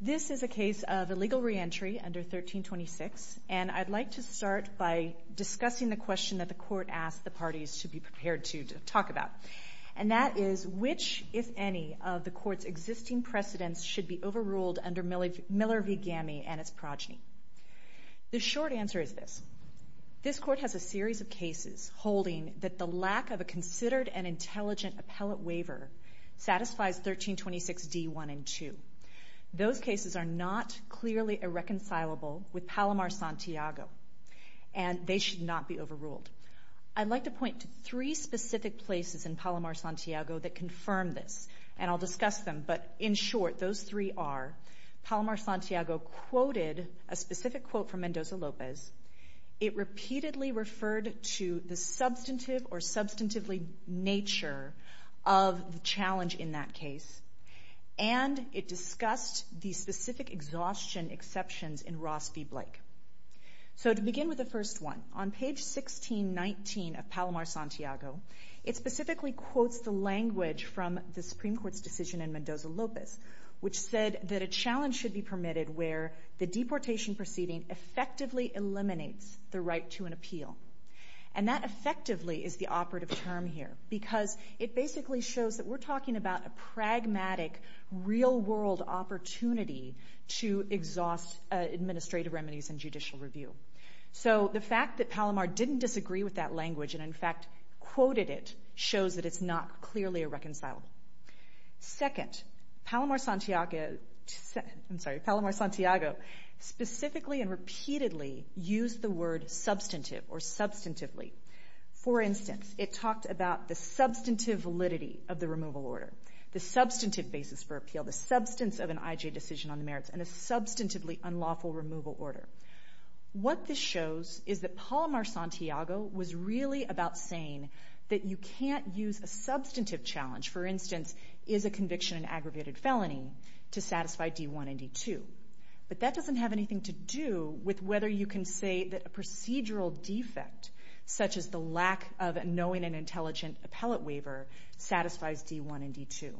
This is a case of illegal reentry under 1326, and I'd like to start by discussing the question that the court asked the parties to be prepared to talk about, and that is, which, if any, of the court's existing precedents should be overruled under Miller v. Gammey and its progeny? The short answer is this. This court has a series of cases holding that the lack of a considered and intelligent appellate waiver satisfies 1326d.1 and 2. Those cases are not clearly irreconcilable with Palomar-Santiago, and they should not be overruled. I'd like to point to three specific places in Palomar-Santiago that confirm this, and I'll discuss them, but in short, those three are Palomar-Santiago quoted a specific quote from Mendoza-Lopez. It repeatedly referred to the substantive or substantively nature of the challenge in that case, and it discussed the specific exhaustion exceptions in Ross v. Blake. So to begin with the first one, on page 1619 of Palomar-Santiago, it specifically quotes the language from the Supreme Court's decision in Mendoza-Lopez, which said that a challenge should be permitted where the deportation proceeding effectively eliminates the right to an appeal. And that effectively is the operative term here, because it basically shows that we're talking about a pragmatic, real-world opportunity to exhaust administrative remedies and judicial review. So the fact that Palomar didn't disagree with that language and, in fact, quoted it shows that it's not clearly irreconcilable. Second, Palomar-Santiago specifically and repeatedly used the word substantive or substantively. For instance, it talked about the substantive validity of the removal order, the substantive basis for appeal, the substance of an IJ decision on the merits, and a substantively unlawful removal order. What this shows is that Palomar-Santiago was really about saying that you can't use a substantive challenge, for instance, is a conviction an aggravated felony, to satisfy D-1 and D-2. But that doesn't have anything to do with whether you can say that a procedural defect, such as the lack of knowing an intelligent appellate waiver, satisfies D-1 and D-2.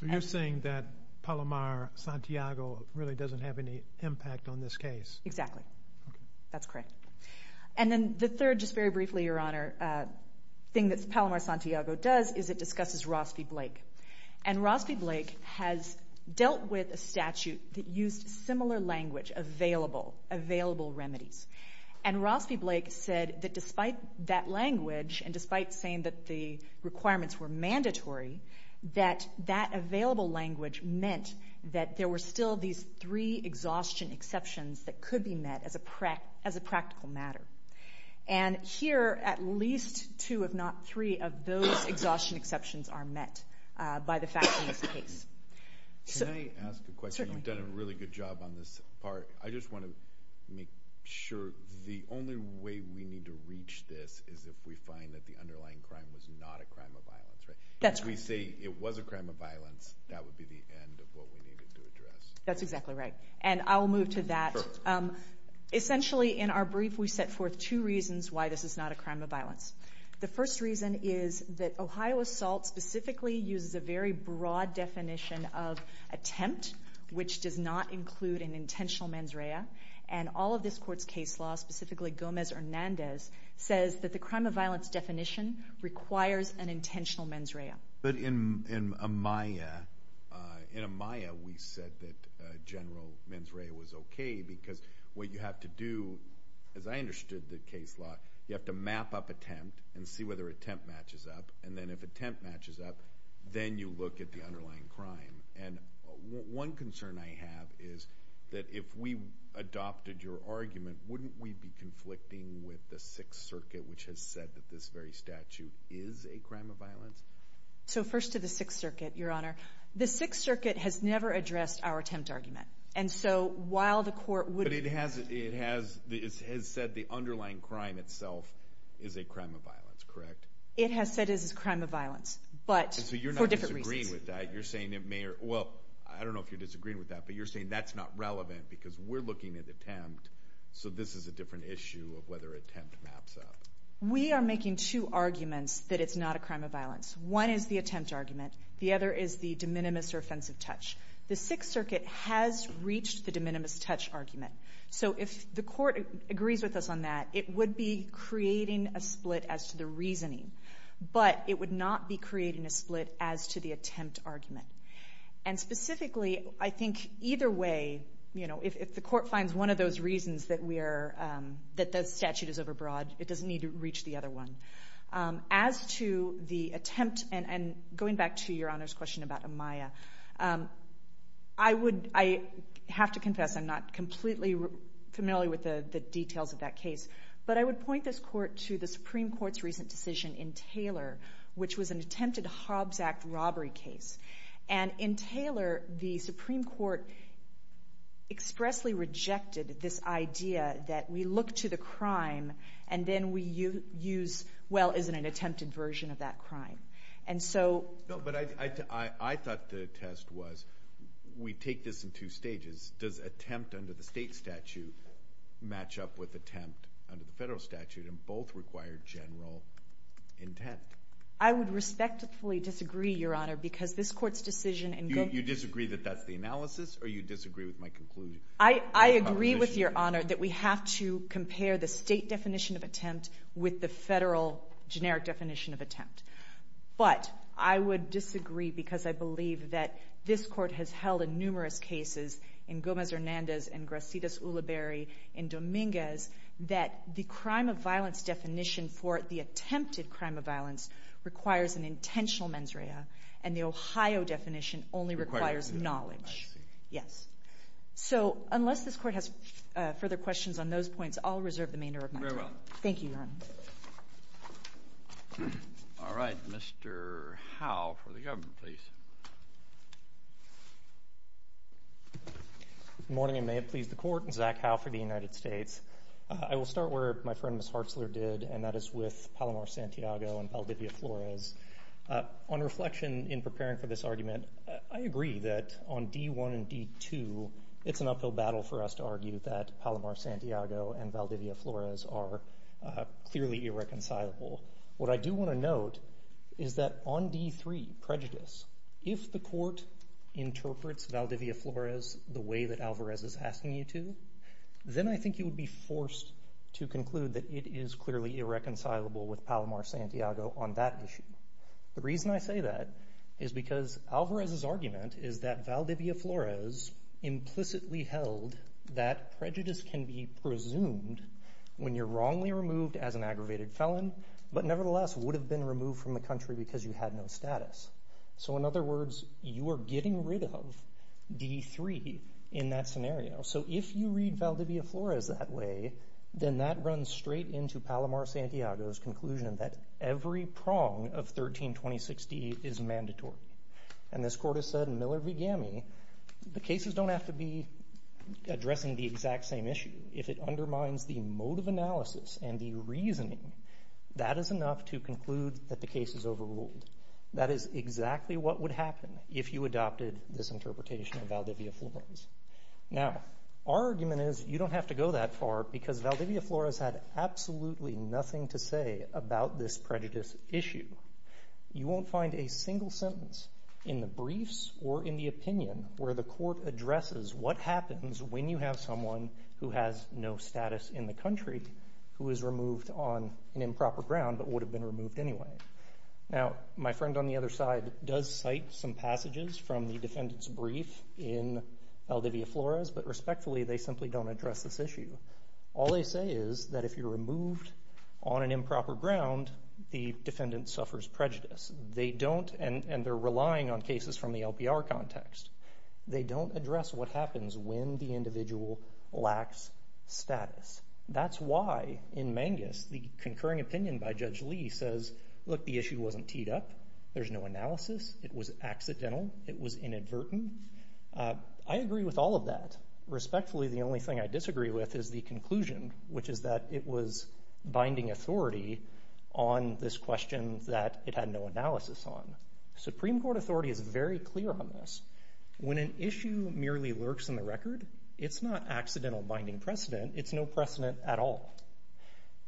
So you're saying that Palomar-Santiago really doesn't have any impact on this case. Exactly. Okay. That's correct. And then the third, just very briefly, Your Honor, thing that Palomar-Santiago does is it discusses Ross v. Blake. And Ross v. Blake has dealt with a statute that used similar language, available, available remedies. And Ross v. Blake said that despite that language and despite saying that the requirements were mandatory, that that available language meant that there were still these three exhaustion exceptions that could be met as a practical matter. And here, at least two, if not three, of those exhaustion exceptions are met by the fact in this case. Can I ask a question? Certainly. You've done a really good job on this part. I just want to make sure the only way we need to reach this is if we find that the underlying crime was not a crime of violence, right? That's correct. If we say it was a crime of violence, that would be the end of what we needed to address. That's exactly right. And I will move to that. Sure. Essentially, in our brief, we set forth two reasons why this is not a crime of violence. The first reason is that Ohio assault specifically uses a very broad definition of attempt, which does not include an intentional mens rea. And all of this Court's case law, specifically Gomez-Hernandez, says that the crime of violence definition requires an intentional mens rea. But in Amaya, we said that general mens rea was okay because what you have to do, as I understood the case law, you have to map up attempt and see whether attempt matches up. And then if attempt matches up, then you look at the underlying crime. And one concern I have is that if we adopted your argument, wouldn't we be conflicting with the Sixth Circuit, which has said that this very statute is a crime of violence? So first to the Sixth Circuit, Your Honor. The Sixth Circuit has never addressed our attempt argument. And so while the Court would have. It has said the underlying crime itself is a crime of violence, correct? It has said it is a crime of violence, but for different reasons. So you're not disagreeing with that. You're saying it may or, well, I don't know if you're disagreeing with that, but you're saying that's not relevant because we're looking at attempt, so this is a different issue of whether attempt maps up. We are making two arguments that it's not a crime of violence. One is the attempt argument. The other is the de minimis or offensive touch. The Sixth Circuit has reached the de minimis touch argument. So if the Court agrees with us on that, it would be creating a split as to the reasoning. But it would not be creating a split as to the attempt argument. And specifically, I think either way, you know, if the Court finds one of those reasons that we are — that the statute is overbroad, it doesn't need to reach the other one. As to the attempt, and going back to Your Honor's question about Amaya, I would — I have to confess I'm not completely familiar with the details of that case. But I would point this Court to the Supreme Court's recent decision in Taylor, which was an attempted Hobbs Act robbery case. And in Taylor, the Supreme Court expressly rejected this idea that we look to the crime and then we use, well, is it an attempted version of that crime? And so — No, but I thought the test was we take this in two stages. Does attempt under the state statute match up with attempt under the federal statute? And both require general intent. I would respectfully disagree, Your Honor, because this Court's decision in — You disagree that that's the analysis, or you disagree with my conclusion? I agree with Your Honor that we have to compare the state definition of attempt with the federal generic definition of attempt. But I would disagree because I believe that this Court has held in numerous cases, in Gomez-Hernandez and Gracidas-Uliberry, in Dominguez, that the crime of violence definition for the attempted crime of violence requires an intentional mens rea, and the Ohio definition only requires knowledge. I see. Yes. So unless this Court has further questions on those points, I'll reserve the remainder of my time. Very well. Thank you, Your Honor. I'll invite Mr. Howe for the government, please. Good morning, and may it please the Court. I'm Zach Howe for the United States. I will start where my friend, Ms. Hartzler, did, and that is with Palomar-Santiago and Valdivia-Flores. On reflection in preparing for this argument, I agree that on D-1 and D-2, it's an uphill battle for us to argue that Palomar-Santiago and Valdivia-Flores are clearly irreconcilable. What I do want to note is that on D-3, prejudice, if the Court interprets Valdivia-Flores the way that Alvarez is asking you to, then I think you would be forced to conclude that it is clearly irreconcilable with Palomar-Santiago on that issue. The reason I say that is because Alvarez's argument is that Valdivia-Flores implicitly held that prejudice can be presumed when you're wrongly removed as an aggravated felon, but nevertheless would have been removed from the country because you had no status. So in other words, you are getting rid of D-3 in that scenario. So if you read Valdivia-Flores that way, then that runs straight into Palomar-Santiago's conclusion that every prong of 13-2060 is mandatory. And this Court has said in Miller v. Gamme, the cases don't have to be addressing the exact same issue. If it undermines the mode of analysis and the reasoning, that is enough to conclude that the case is overruled. That is exactly what would happen if you adopted this interpretation of Valdivia-Flores. Now, our argument is you don't have to go that far because Valdivia-Flores had absolutely nothing to say about this prejudice issue. You won't find a single sentence in the briefs or in the opinion where the Court addresses what happens when you have someone who has no status in the country who is removed on an improper ground but would have been removed anyway. Now, my friend on the other side does cite some passages from the defendant's brief in Valdivia-Flores, but respectfully, they simply don't address this issue. All they say is that if you're removed on an improper ground, the defendant suffers prejudice. They don't, and they're relying on cases from the LPR context, they don't address what happens when the individual lacks status. That's why in Mangus, the concurring opinion by Judge Lee says, look, the issue wasn't teed up, there's no analysis, it was accidental, it was inadvertent. I agree with all of that. Respectfully, the only thing I disagree with is the conclusion, which is that it was binding authority on this question that it had no analysis on. Supreme Court authority is very clear on this. When an issue merely lurks in the record, it's not accidental binding precedent, it's no precedent at all.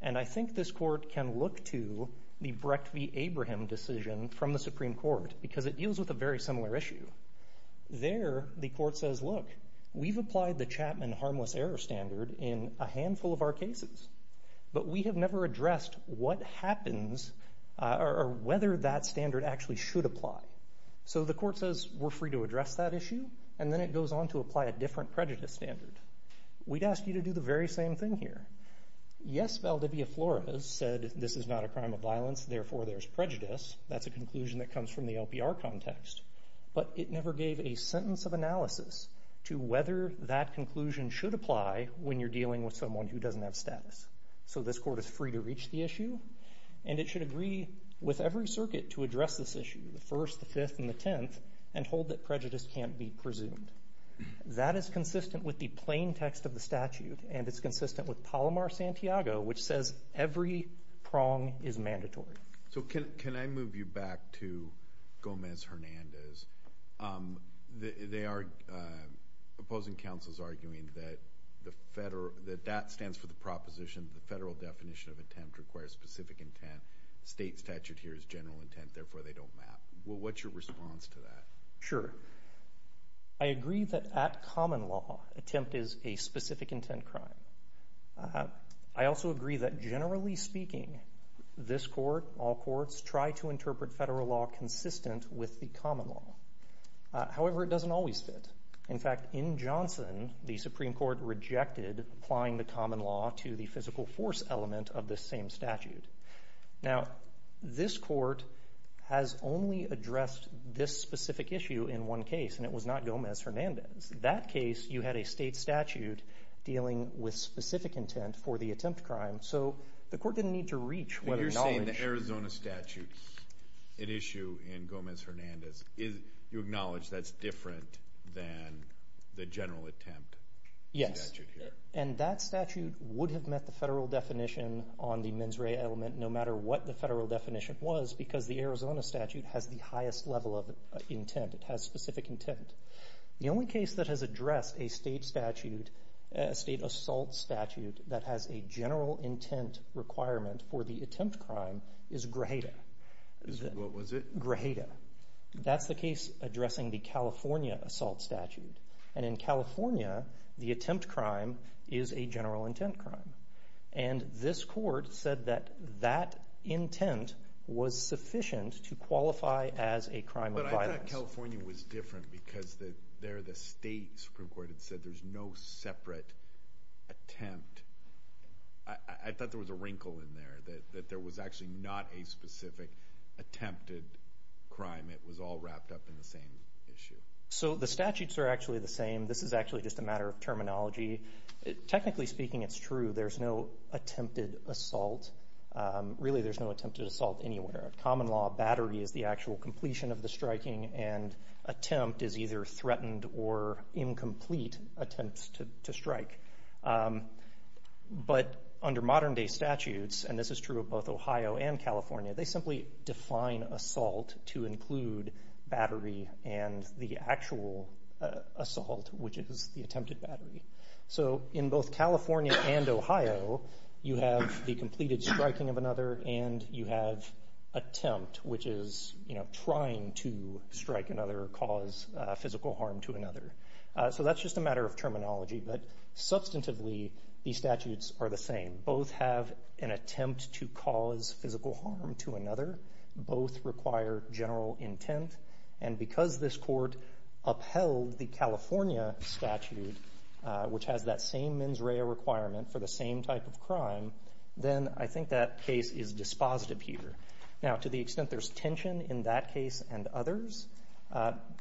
And I think this Court can look to the Brecht v. Abraham decision from the Supreme Court because it deals with a very similar issue. There, the Court says, look, we've applied the Chapman harmless error standard in a handful of our cases, but we have never addressed what happens or whether that standard actually should apply. So the Court says we're free to address that issue, and then it goes on to apply a different prejudice standard. We'd ask you to do the very same thing here. Yes, Valdivia-Flores said this is not a crime of violence, therefore there's prejudice. That's a conclusion that comes from the LPR context. But it never gave a sentence of analysis to whether that conclusion should apply when you're dealing with someone who doesn't have status. So this Court is free to reach the issue, and it should agree with every circuit to address this issue, the 1st, the 5th, and the 10th, and hold that prejudice can't be presumed. That is consistent with the plain text of the statute, and it's consistent with Palomar-Santiago, which says every prong is mandatory. So can I move you back to Gomez-Hernandez? They are opposing counsels arguing that that stands for the proposition that the federal definition of attempt requires specific intent. State statute here is general intent, therefore they don't map. What's your response to that? Sure. I agree that at common law, attempt is a specific intent crime. I also agree that generally speaking, this Court, all courts, try to interpret federal law consistent with the common law. However, it doesn't always fit. In fact, in Johnson, the Supreme Court rejected applying the common law to the physical force element of the same statute. Now, this Court has only addressed this specific issue in one case, and it was not Gomez-Hernandez. In that case, you had a state statute dealing with specific intent for the attempt crime. So the Court didn't need to reach what it acknowledged. But you're saying the Arizona statute, an issue in Gomez-Hernandez, you acknowledge that's different than the general attempt statute here? Yes, and that statute would have met the federal definition on the mens rea element, no matter what the federal definition was, because the Arizona statute has the highest level of intent. It has specific intent. The only case that has addressed a state assault statute that has a general intent requirement for the attempt crime is Grajeda. What was it? Grajeda. That's the case addressing the California assault statute. And in California, the attempt crime is a general intent crime. And this Court said that that intent was sufficient to qualify as a crime of violence. But I thought California was different because there the state Supreme Court had said there's no separate attempt. I thought there was a wrinkle in there that there was actually not a specific attempted crime. It was all wrapped up in the same issue. So the statutes are actually the same. This is actually just a matter of terminology. Technically speaking, it's true. There's no attempted assault. Really, there's no attempted assault anywhere. Common law, battery is the actual completion of the striking, and attempt is either threatened or incomplete attempts to strike. But under modern-day statutes, and this is true of both Ohio and California, they simply define assault to include battery and the actual assault, which is the attempted battery. So in both California and Ohio, you have the completed striking of another, and you have attempt, which is trying to strike another or cause physical harm to another. So that's just a matter of terminology. But substantively, these statutes are the same. Both have an attempt to cause physical harm to another. Both require general intent. And because this court upheld the California statute, which has that same mens rea requirement for the same type of crime, then I think that case is dispositive here. Now, to the extent there's tension in that case and others,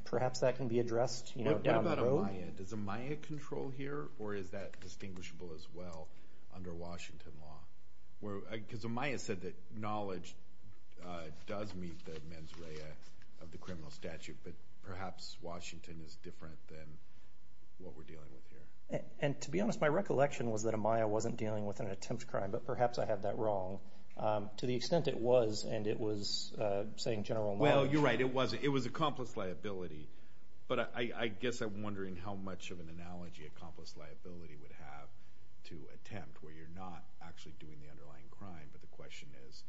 perhaps that can be addressed down the road. What about a MIA? Does a MIA control here, or is that distinguishable as well under Washington law? Because a MIA said that knowledge does meet the mens rea of the criminal statute, but perhaps Washington is different than what we're dealing with here. And to be honest, my recollection was that a MIA wasn't dealing with an attempt crime, but perhaps I have that wrong. To the extent it was, and it was saying general knowledge. Well, you're right. It was accomplice liability. But I guess I'm wondering how much of an analogy accomplice liability would have to attempt, where you're not actually doing the underlying crime, but the question is,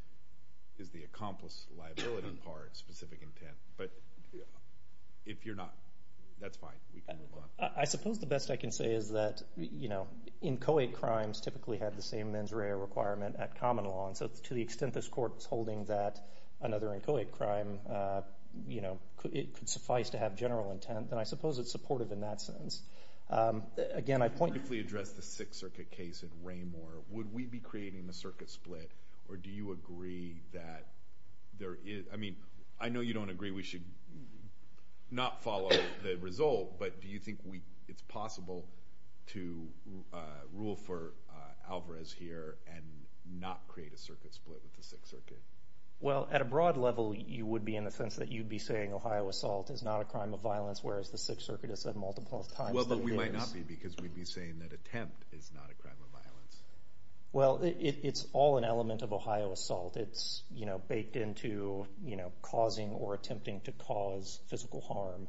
is the accomplice liability part specific intent? But if you're not, that's fine. We can move on. I suppose the best I can say is that, you know, inchoate crimes typically have the same mens rea requirement at common law. And so to the extent this court is holding that another inchoate crime, you know, it could suffice to have general intent. And I suppose it's supportive in that sense. Again, I point. If we address the Sixth Circuit case in Raymoor, would we be creating a circuit split, or do you agree that there is, I mean, I know you don't agree we should not follow the result, but do you think it's possible to rule for Alvarez here and not create a circuit split with the Sixth Circuit? Well, at a broad level, you would be in the sense that you'd be saying Ohio assault is not a crime of violence, whereas the Sixth Circuit has said multiple times that it is. Well, but we might not be because we'd be saying that attempt is not a crime of violence. Well, it's all an element of Ohio assault. It's, you know, baked into, you know, causing or attempting to cause physical harm.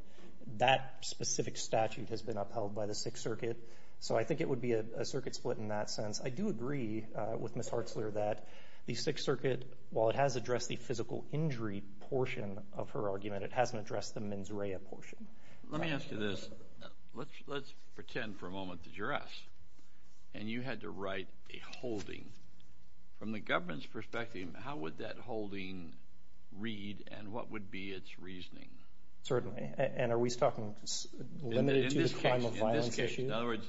That specific statute has been upheld by the Sixth Circuit, so I think it would be a circuit split in that sense. I do agree with Ms. Hartzler that the Sixth Circuit, while it has addressed the physical injury portion of her argument, it hasn't addressed the mens rea portion. Let me ask you this. Let's pretend for a moment that you're us, and you had to write a holding. From the government's perspective, how would that holding read, and what would be its reasoning? Certainly, and are we talking limited to the crime of violence issue? In this case, in other words,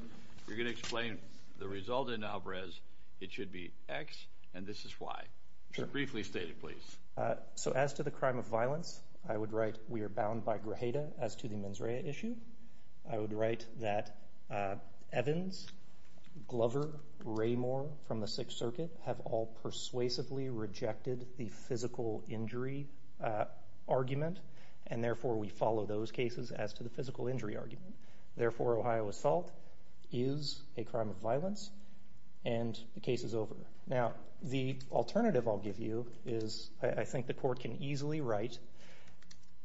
you're going to explain the result in Alvarez, it should be X, and this is Y. Briefly state it, please. So as to the crime of violence, I would write we are bound by grajeda as to the mens rea issue. I would write that Evans, Glover, Ramor from the Sixth Circuit have all persuasively rejected the physical injury argument, and therefore we follow those cases as to the physical injury argument. Therefore, Ohio assault is a crime of violence, and the case is over. Now, the alternative I'll give you is I think the court can easily write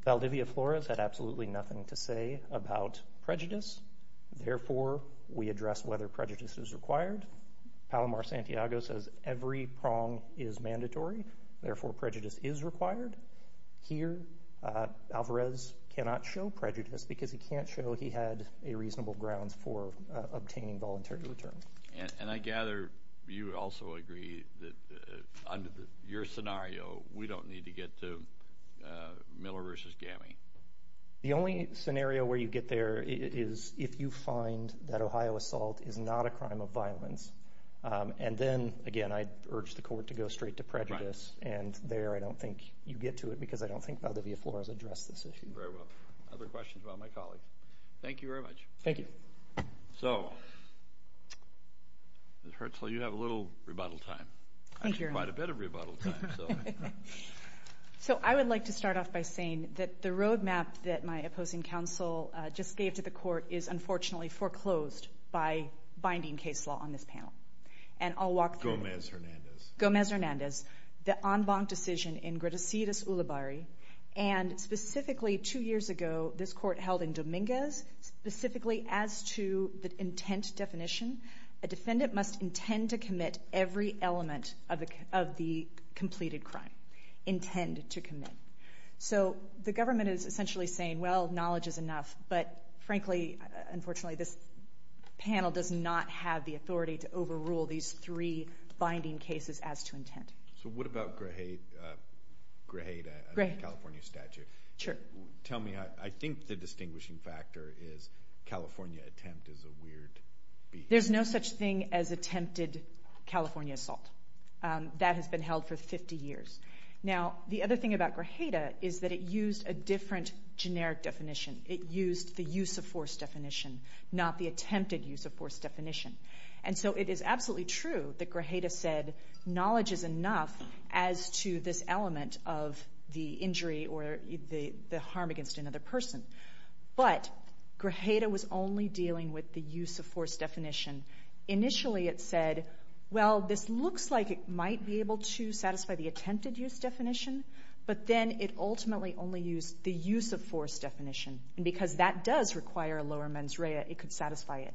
Valdivia Flores had absolutely nothing to say about prejudice. Therefore, we address whether prejudice is required. Palomar Santiago says every prong is mandatory. Therefore, prejudice is required. Here, Alvarez cannot show prejudice because he can't show he had a reasonable grounds for obtaining voluntary return. And I gather you also agree that under your scenario, we don't need to get to Miller v. Gammie. The only scenario where you get there is if you find that Ohio assault is not a crime of violence. And then, again, I'd urge the court to go straight to prejudice. And there I don't think you get to it because I don't think Valdivia Flores addressed this issue. Very well. Other questions about my colleague? Thank you very much. Thank you. So, Ms. Hertzel, you have a little rebuttal time. Thank you. Quite a bit of rebuttal time. So I would like to start off by saying that the roadmap that my opposing counsel just gave to the court is unfortunately foreclosed by binding case law on this panel. And I'll walk through it. Gomez-Hernandez. Gomez-Hernandez. The en banc decision in Grecidus Ulibarri. And specifically two years ago, this court held in Dominguez specifically as to the intent definition. A defendant must intend to commit every element of the completed crime. Intend to commit. So the government is essentially saying, well, knowledge is enough. But, frankly, unfortunately, this panel does not have the authority to overrule these three binding cases as to intent. So what about Grajeda, California statute? Sure. Tell me, I think the distinguishing factor is California attempt is a weird behavior. There's no such thing as attempted California assault. That has been held for 50 years. Now, the other thing about Grajeda is that it used a different generic definition. It used the use of force definition, not the attempted use of force definition. And so it is absolutely true that Grajeda said knowledge is enough as to this element of the injury or the harm against another person. But Grajeda was only dealing with the use of force definition. Initially it said, well, this looks like it might be able to satisfy the attempted use definition. But then it ultimately only used the use of force definition. And because that does require a lower mens rea, it could satisfy it.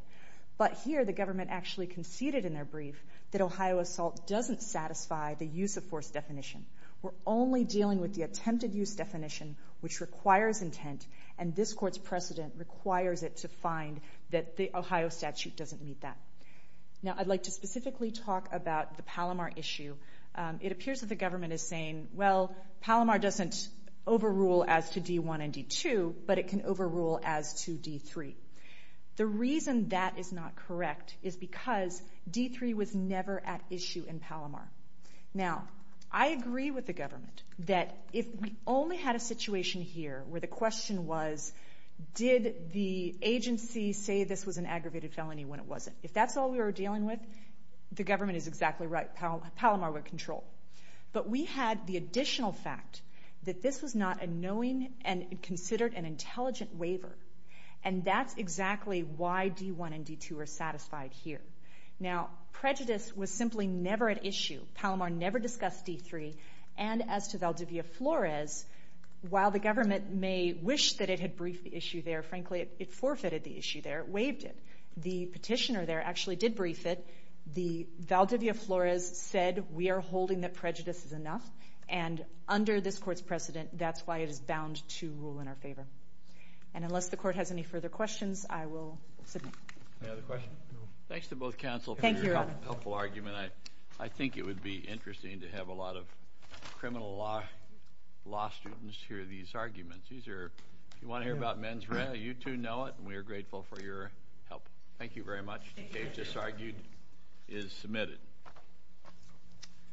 But here the government actually conceded in their brief that Ohio assault doesn't satisfy the use of force definition. We're only dealing with the attempted use definition, which requires intent. And this court's precedent requires it to find that the Ohio statute doesn't meet that. Now, I'd like to specifically talk about the Palomar issue. It appears that the government is saying, well, Palomar doesn't overrule as to D-1 and D-2, but it can overrule as to D-3. The reason that is not correct is because D-3 was never at issue in Palomar. Now, I agree with the government that if we only had a situation here where the question was, did the agency say this was an aggravated felony when it wasn't? If that's all we were dealing with, the government is exactly right. Palomar would control. But we had the additional fact that this was not a knowing and considered an intelligent waiver. And that's exactly why D-1 and D-2 are satisfied here. Now, prejudice was simply never at issue. Palomar never discussed D-3. And as to Valdivia Flores, while the government may wish that it had briefed the issue there, frankly, it forfeited the issue there. It waived it. The petitioner there actually did brief it. The Valdivia Flores said we are holding that prejudice is enough. And under this court's precedent, that's why it is bound to rule in our favor. And unless the court has any further questions, I will submit. Any other questions? Thanks to both counsel for your helpful argument. I think it would be interesting to have a lot of criminal law students hear these arguments. If you want to hear about men's rent, you two know it, and we are grateful for your help. Thank you very much. The case, as argued, is submitted.